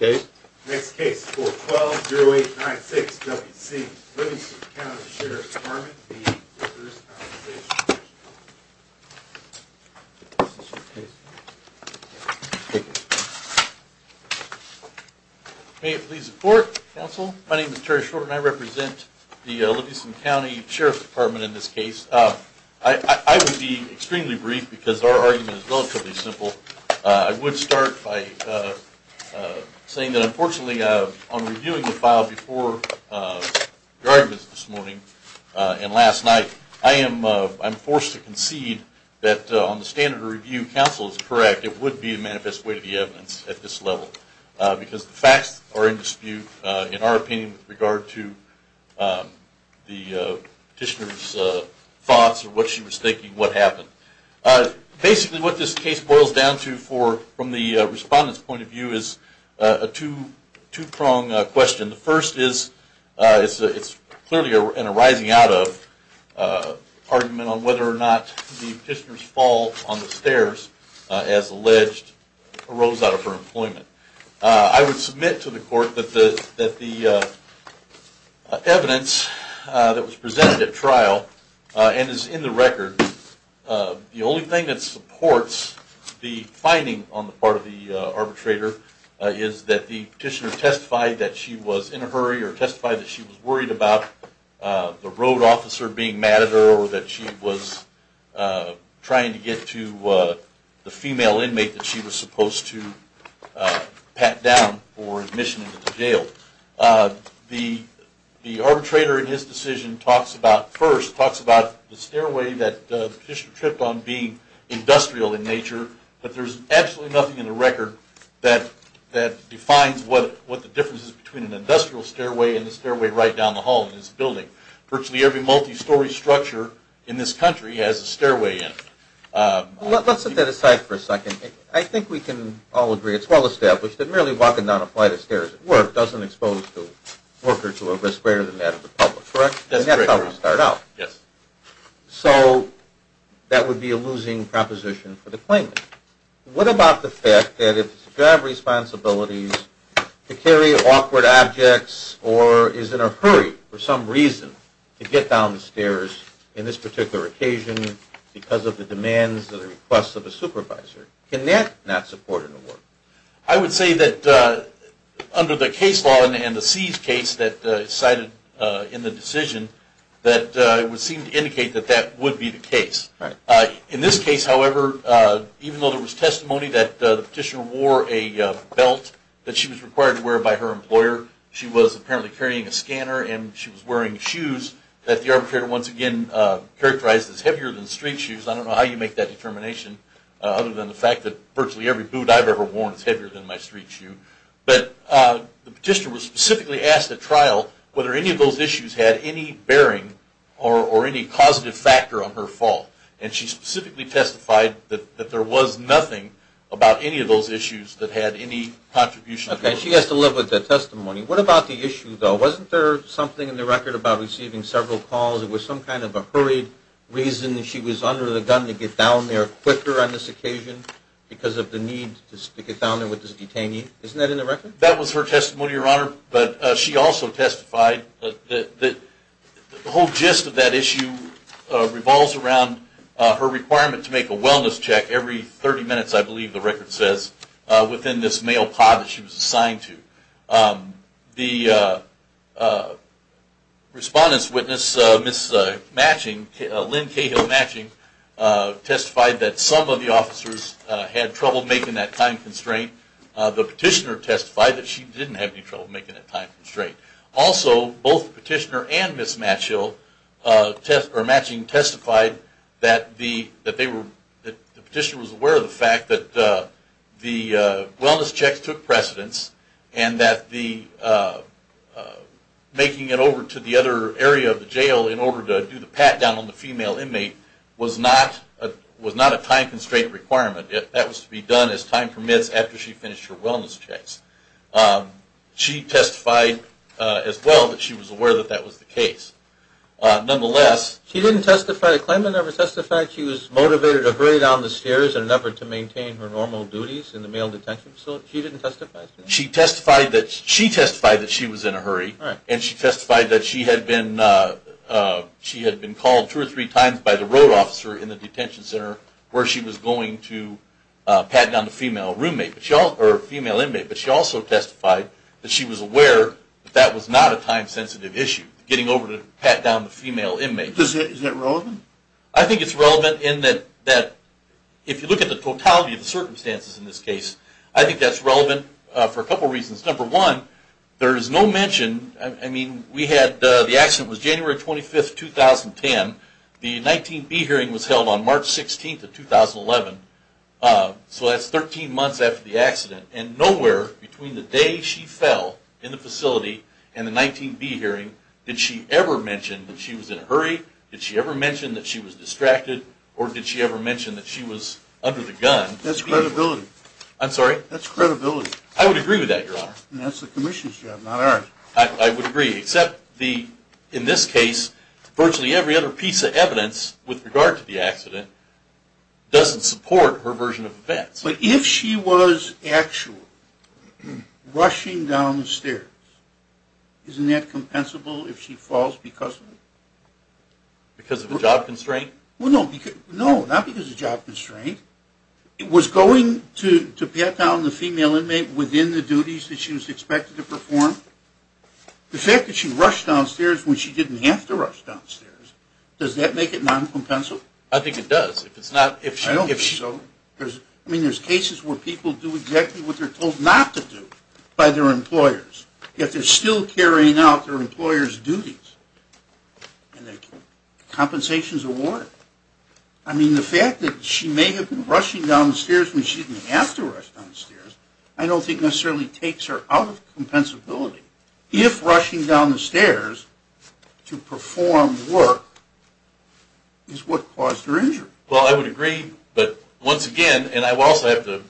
Next case, 412-0896-WC, Livingston County Sheriff's Dept. v. Workers' Compensation Comm'n May it please the court, counsel. My name is Terry Short and I represent the Livingston County Sheriff's Dept. in this case. I would be extremely brief because our argument is relatively simple. I would start by saying that unfortunately on reviewing the file before the arguments this morning and last night, I am forced to concede that on the standard of review, counsel is correct. It would be a manifest way to the evidence at this level. Because the facts are in dispute in our opinion with regard to the petitioner's thoughts or what she was thinking, what happened. Basically what this case boils down to from the respondent's point of view is a two-pronged question. The first is clearly a rising out of argument on whether or not the petitioner's fall on the stairs as alleged arose out of her employment. I would submit to the court that the evidence that was presented at trial and is in the record, the only thing that supports the finding on the part of the arbitrator is that the petitioner testified that she was in a hurry or testified that she was worried about the road officer being mad at her or that she was trying to get to the female inmate that she was supposed to pat down for admission into the jail. The arbitrator in his decision first talks about the stairway that the petitioner tripped on being industrial in nature, but there is absolutely nothing in the record that defines what the difference is between an industrial stairway and the stairway right down the hall in this building. Virtually every multi-story structure in this country has a stairway in it. Let's set that aside for a second. I think we can all agree it's well established that merely walking down a flight of stairs at work doesn't expose the worker to a risk greater than that of the public, correct? That's correct. And that's how we start out. Yes. So that would be a losing proposition for the claimant. What about the fact that if the job responsibility is to carry awkward objects or is in a hurry for some reason to get down the stairs in this particular occasion because of the demands or the requests of a supervisor? Can that not support an award? I would say that under the case law and the seized case that is cited in the decision, that it would seem to indicate that that would be the case. In this case, however, even though there was testimony that the petitioner wore a belt that she was required to wear by her employer, she was apparently carrying a scanner and she was wearing shoes that the arbitrator once again characterized as heavier than street shoes. I don't know how you make that determination other than the fact that virtually every boot I've ever worn is heavier than my street shoe. But the petitioner was specifically asked at trial whether any of those issues had any bearing or any positive factor on her fault. And she specifically testified that there was nothing about any of those issues that had any contribution. Okay. She has to live with that testimony. What about the issue, though? Wasn't there something in the record about receiving several calls? Was there some kind of a hurried reason that she was under the gun to get down there quicker on this occasion because of the need to get down there with this detainee? Isn't that in the record? That was her testimony, Your Honor. But she also testified that the whole gist of that issue revolves around her requirement to make a wellness check every 30 minutes, I believe the record says, within this mail pod that she was assigned to. The respondent's witness, Ms. Matching, Lynn Cahill Matching, testified that some of the officers had trouble making that time constraint. The petitioner testified that she didn't have any trouble making that time constraint. Also, both the petitioner and Ms. Matching testified that the petitioner was aware of the fact that the wellness checks took precedence and that making it over to the other area of the jail in order to do the pat down on the female inmate was not a time constraint requirement. That was to be done as time permits after she finished her wellness checks. She testified as well that she was aware that that was the case. Nonetheless... She didn't testify to claimant, never testified she was motivated to hurry down the stairs in order to maintain her normal duties in the male detention facility? She didn't testify to that? She testified that she was in a hurry. And she testified that she had been called two or three times by the road officer in the detention center where she was going to pat down the female inmate. But she also testified that she was aware that that was not a time sensitive issue, getting over to pat down the female inmate. Is that relevant? I think it's relevant in that if you look at the totality of the circumstances in this case, I think that's relevant for a couple reasons. Number one, there is no mention... I mean, the accident was January 25, 2010. The 19B hearing was held on March 16, 2011. So that's 13 months after the accident. And nowhere between the day she fell in the facility and the 19B hearing did she ever mention that she was in a hurry, did she ever mention that she was distracted, or did she ever mention that she was under the gun. That's credibility. I'm sorry? That's credibility. I would agree with that, Your Honor. That's the commission's job, not ours. I would agree. Except in this case, virtually every other piece of evidence with regard to the accident doesn't support her version of events. But if she was actually rushing down the stairs, isn't that compensable if she falls because of it? Because of a job constraint? Well, no, not because of a job constraint. It was going to pat down the female inmate within the duties that she was expected to perform. The fact that she rushed downstairs when she didn't have to rush downstairs, does that make it non-compensable? I think it does. I don't think so. I mean, there's cases where people do exactly what they're told not to do by their employers, yet they're still carrying out their employers' duties, and their compensations are warranted. I mean, the fact that she may have been rushing downstairs when she didn't have to rush downstairs, I don't think necessarily takes her out of compensability. If rushing down the stairs to perform work is what caused her injury. Well, I would agree. But once again, and I will also have to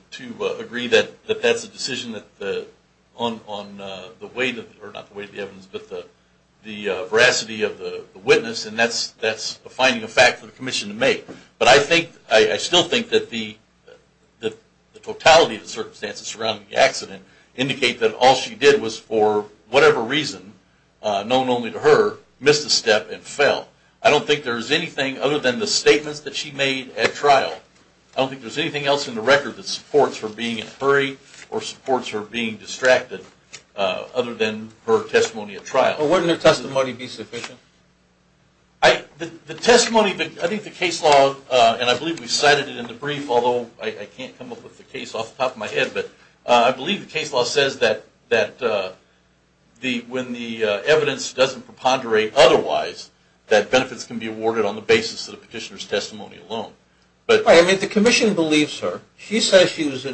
agree that that's a decision on the weight of the evidence, but the veracity of the witness, and that's a finding of fact for the commission to make. But I still think that the totality of the circumstances surrounding the accident indicate that all she did was for whatever reason, known only to her, missed a step and fell. I don't think there's anything other than the statements that she made at trial. I don't think there's anything else in the record that supports her being in a hurry or supports her being distracted other than her testimony at trial. Wouldn't her testimony be sufficient? The testimony, I think the case law, and I believe we cited it in the brief, although I can't come up with the case off the top of my head, but I believe the case law says that when the evidence doesn't preponderate otherwise, that benefits can be awarded on the basis of the petitioner's testimony alone. I mean, the commission believes her. She says she was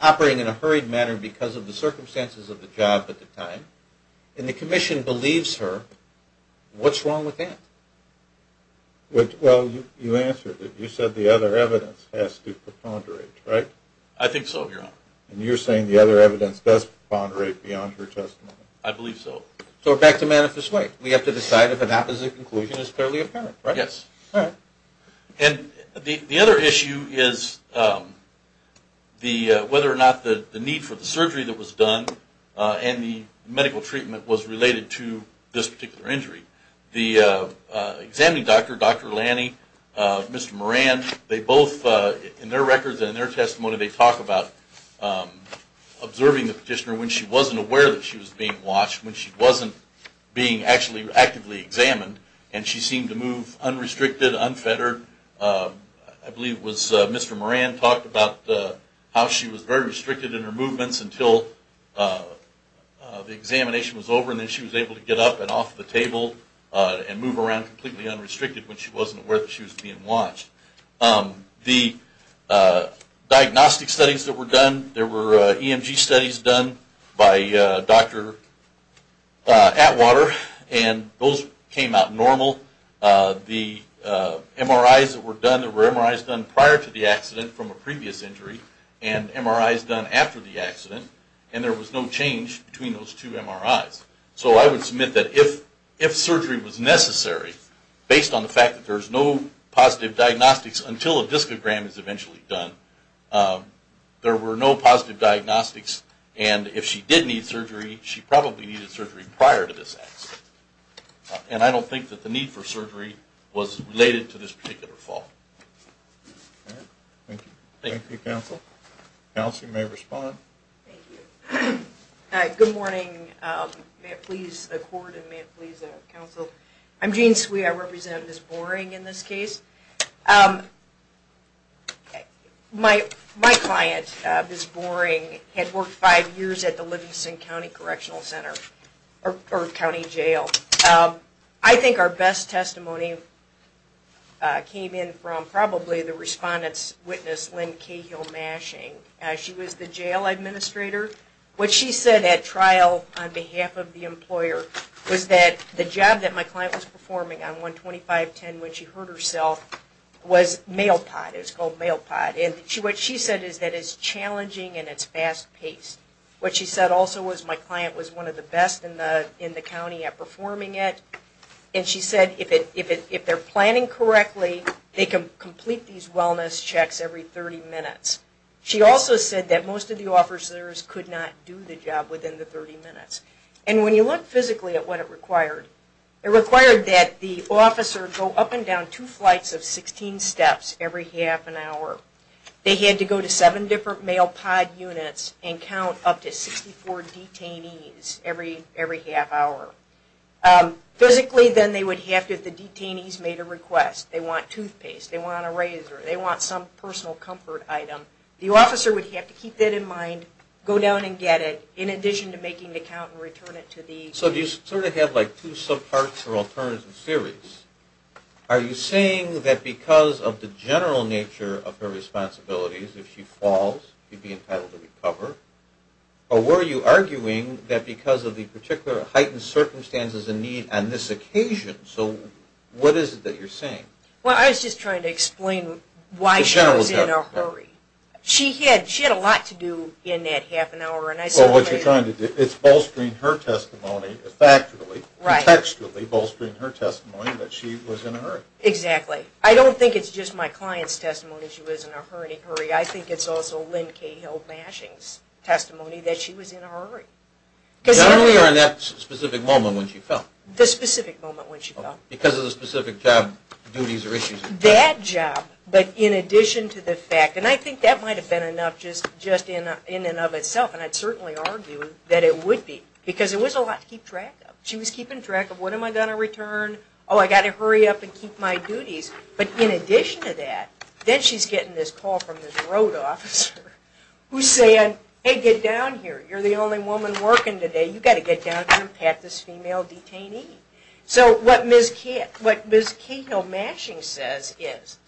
operating in a hurried manner because of the circumstances of the job at the time. And the commission believes her. What's wrong with that? Well, you answered it. You said the other evidence has to preponderate, right? I think so, Your Honor. And you're saying the other evidence does preponderate beyond her testimony? I believe so. So we're back to manifest way. We have to decide if an opposite conclusion is fairly apparent, right? Yes. All right. And the other issue is whether or not the need for the surgery that was done and the medical treatment was related to this particular injury. The examining doctor, Dr. Lanny, Mr. Moran, they both, in their records and in their testimony, they talk about observing the petitioner when she wasn't aware that she was being watched, when she wasn't being actually actively examined, and she seemed to move unrestricted, unfettered. I believe it was Mr. Moran talked about how she was very restricted in her movements until the examination was over and then she was able to get up and off the table and move around completely unrestricted when she wasn't aware that she was being watched. The diagnostic studies that were done, there were EMG studies done by Dr. Atwater, and those came out normal. The MRIs that were done, there were MRIs done prior to the accident from a previous injury and MRIs done after the accident, and there was no change between those two MRIs. So I would submit that if surgery was necessary, based on the fact that there's no positive diagnostics until a discogram is eventually done, there were no positive diagnostics, and if she did need surgery, she probably needed surgery prior to this accident. And I don't think that the need for surgery was related to this particular fall. Thank you, counsel. Counsel, you may respond. Thank you. Good morning. May it please the court and may it please the counsel. I'm Jean Swee. I represent Ms. Boring in this case. My client, Ms. Boring, had worked five years at the Livingston County Correctional Center or County Jail. I think our best testimony came in from probably the respondent's witness, Lynn Cahill-Mashing. She was the jail administrator. What she said at trial on behalf of the employer was that the job that my client was performing on 12510 when she hurt herself was mail pot. It was called mail pot. And what she said is that it's challenging and it's fast-paced. What she said also was my client was one of the best in the county at performing it, and she said if they're planning correctly, they can complete these wellness checks every 30 minutes. She also said that most of the officers could not do the job within the 30 minutes. And when you look physically at what it required, it required that the officer go up and down two flights of 16 steps every half an hour. They had to go to seven different mail pot units and count up to 64 detainees every half hour. Physically, then, they would have to if the detainees made a request. They want toothpaste. They want a razor. They want some personal comfort item. The officer would have to keep that in mind, go down and get it, in addition to making the count and return it to the... So do you sort of have like two subparts or alternative theories? Are you saying that because of the general nature of her responsibilities, if she falls, she'd be entitled to recover? Or were you arguing that because of the particular heightened circumstances and need on this occasion? So what is it that you're saying? Well, I was just trying to explain why she was in a hurry. She had a lot to do in that half an hour. Well, what you're trying to do, it's bolstering her testimony factually, contextually bolstering her testimony that she was in a hurry. Exactly. I don't think it's just my client's testimony she was in a hurry. I think it's also Lynn Cahill Mashing's testimony that she was in a hurry. Not only on that specific moment when she fell. The specific moment when she fell. Because of the specific job, duties, or issues. That job. But in addition to the fact, and I think that might have been enough just in and of itself, and I'd certainly argue that it would be because it was a lot to keep track of. She was keeping track of what am I going to return? Oh, I've got to hurry up and keep my duties. But in addition to that, then she's getting this call from this road officer who's saying, hey, get down here. You're the only woman working today. You've got to get down here and pat this female detainee. So what Ms. Cahill Mashing says is,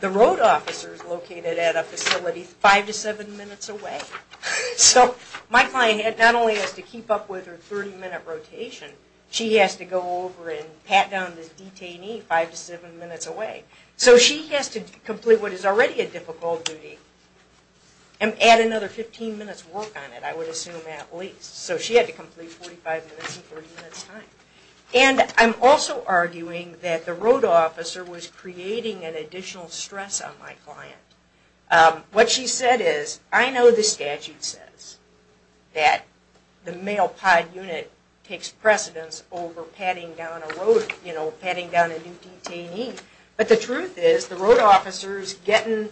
the road officer's located at a facility five to seven minutes away. So my client not only has to keep up with her 30-minute rotation, she has to go over and pat down this detainee five to seven minutes away. So she has to complete what is already a difficult duty and add another 15 minutes' work on it, I would assume at least. So she had to complete 45 minutes in 30 minutes' time. And I'm also arguing that the road officer was creating an additional stress on my client. What she said is, I know the statute says that the male pod unit takes precedence over patting down a road, you know, patting down a new detainee, but the truth is the road officer's getting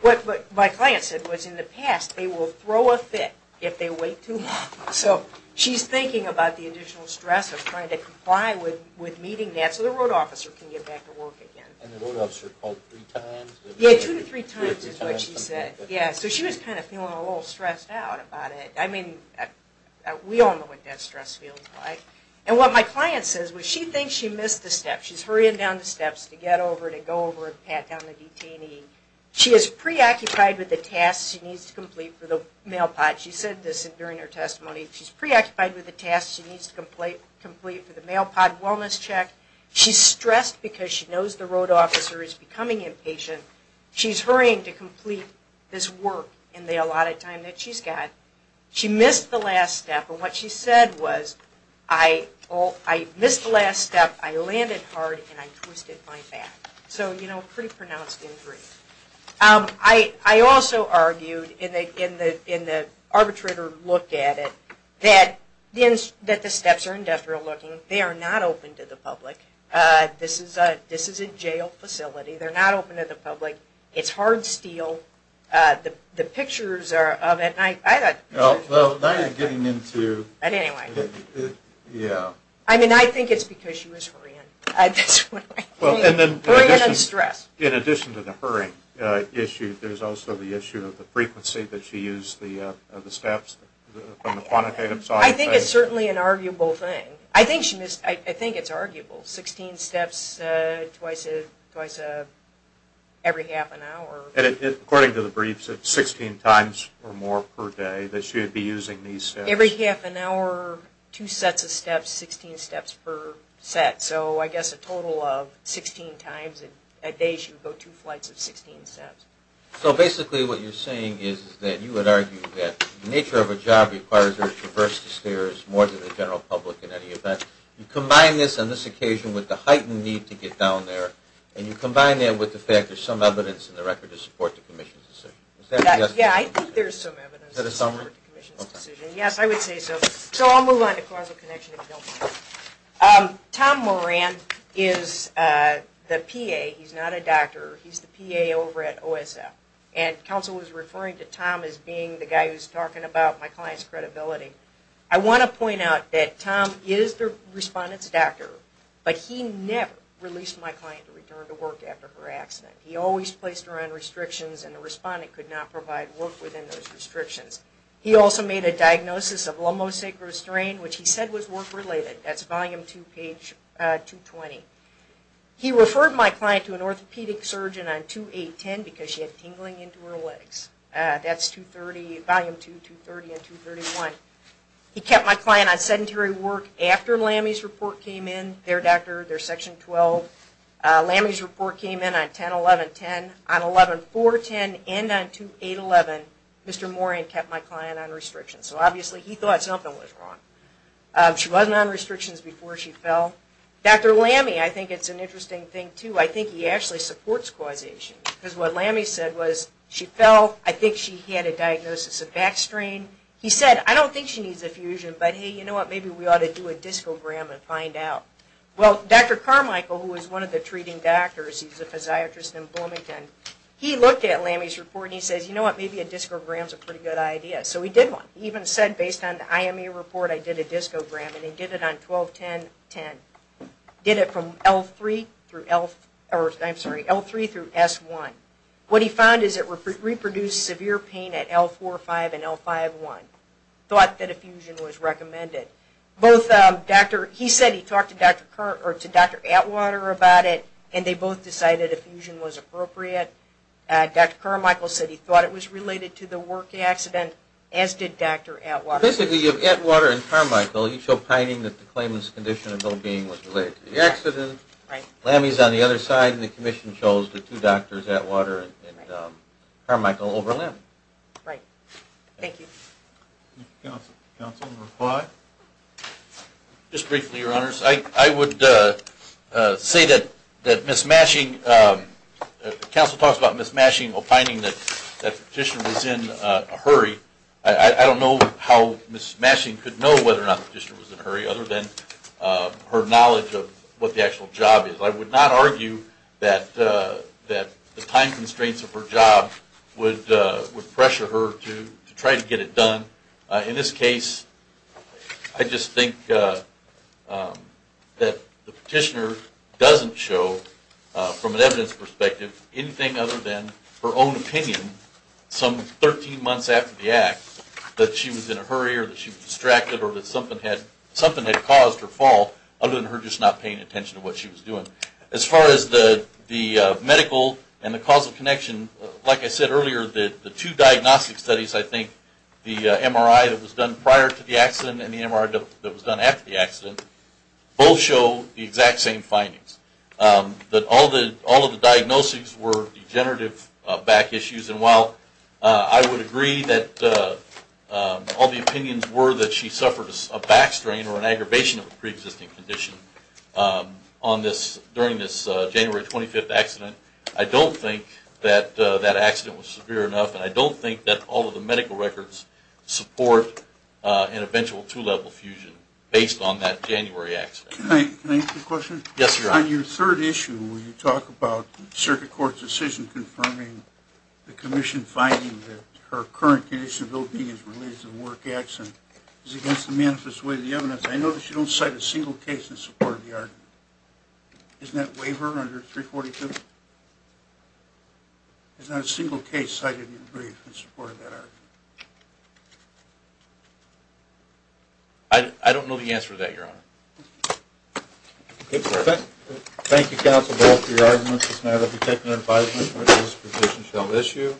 what my client said was in the past, they will throw a fit if they wait too long. So she's thinking about the additional stress of trying to comply with meeting that so the road officer can get back to work again. And the road officer called three times? Yeah, two to three times is what she said. So she was kind of feeling a little stressed out about it. I mean, we all know what that stress feels like. And what my client says was she thinks she missed the step. She's hurrying down the steps to get over, to go over and pat down the detainee. She is preoccupied with the tasks she needs to complete for the male pod. She said this during her testimony. She's preoccupied with the tasks she needs to complete for the male pod wellness check. She's stressed because she knows the road officer is becoming impatient. She's hurrying to complete this work in the allotted time that she's got. She missed the last step. And what she said was, I missed the last step, I landed hard, and I twisted my back. So, you know, pretty pronounced injury. I also argued in the arbitrator look at it that the steps are indefinite looking. They are not open to the public. This is a jail facility. They're not open to the public. It's hard steel. The pictures of it, I thought... Well, now you're getting into... But anyway... Yeah. I mean, I think it's because she was hurrying. Hurrying and stress. In addition to the hurrying issue, there's also the issue of the frequency that she used the steps. I think it's certainly an arguable thing. I think it's arguable. Sixteen steps twice every half an hour. According to the briefs, it's 16 times or more per day that she would be using these steps. Every half an hour, two sets of steps, 16 steps per set. So I guess a total of 16 times a day she would go two flights of 16 steps. So basically what you're saying is that you would argue that the nature of a job requires her to traverse the stairs more than the general public in any event. You combine this on this occasion with the heightened need to get down there, and you combine that with the fact there's some evidence in the record to support the commission's decision. Yeah, I think there's some evidence to support the commission's decision. Is that a summary? Yes, I would say so. So I'll move on to causal connection if you don't mind. Tom Moran is the PA. He's not a doctor. He's the PA over at OSF. And counsel was referring to Tom as being the guy who's talking about my client's credibility. I want to point out that Tom is the respondent's doctor, but he never released my client to return to work after her accident. He always placed her on restrictions, and the respondent could not provide work within those restrictions. He also made a diagnosis of lumbosacral strain, which he said was work-related. That's Volume 2, page 220. He referred my client to an orthopedic surgeon on 2810 because she had tingling into her legs. That's Volume 2, 230 and 231. He kept my client on sedentary work after LAMI's report came in, their section 12. LAMI's report came in on 1011-10. On 11-410 and on 2811, Mr. Moran kept my client on restrictions. So obviously he thought something was wrong. She wasn't on restrictions before she fell. Dr. LAMI, I think it's an interesting thing, too. I think he actually supports causation. Because what LAMI said was she fell. I think she had a diagnosis of back strain. He said, I don't think she needs a fusion, but hey, you know what, maybe we ought to do a discogram and find out. Well, Dr. Carmichael, who was one of the treating doctors, he's a physiatrist in Bloomington, he looked at LAMI's report and he says, you know what, maybe a discogram is a pretty good idea. So he did one. He even said, based on the IME report, I did a discogram. And he did it on 1210-10. Did it from L3 through S1. What he found is it reproduced severe pain at L4-5 and L5-1. Thought that a fusion was recommended. He said he talked to Dr. Atwater about it, and they both decided a fusion was appropriate. Dr. Carmichael said he thought it was related to the work accident, as did Dr. Atwater. Basically, you have Atwater and Carmichael. You show pining that the claimant's condition of well-being was related to the accident. LAMI's on the other side, and the commission chose the two doctors, Atwater and Carmichael, over LAMI. Right. Thank you. Counsel, reply? Just briefly, Your Honors. I would say that Ms. Mashing, counsel talks about Ms. Mashing opining that the petitioner was in a hurry. I don't know how Ms. Mashing could know whether or not the petitioner was in a hurry, other than her knowledge of what the actual job is. I would not argue that the time constraints of her job would pressure her to try to get it done. In this case, I just think that the petitioner doesn't show, from an evidence perspective, anything other than her own opinion some 13 months after the act that she was in a hurry or that she was distracted or that something had caused her fall, other than her just not paying attention to what she was doing. As far as the medical and the causal connection, like I said earlier, the two diagnostic studies, I think, the MRI that was done prior to the accident and the MRI that was done after the accident, both show the exact same findings, that all of the diagnoses were degenerative back issues. And while I would agree that all the opinions were that she suffered a back strain or an aggravation of a preexisting condition during this January 25th accident, I don't think that that accident was severe enough, and I don't think that all of the medical records support an eventual two-level fusion based on that January accident. Can I ask a question? Yes, sir. On your third issue, when you talk about the circuit court's decision confirming the commission finding that her current condition of ill-being is related to the work accident, is it against the manifest way of the evidence? I notice you don't cite a single case in support of the argument. Isn't that waiver under 342? There's not a single case cited in support of that argument. I don't know the answer to that, Your Honor. Thank you, Counsel Ball, for your argument. This matter will be taken under advisement when this position is held issue.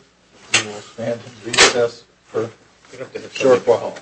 We will stand and recess for a short while.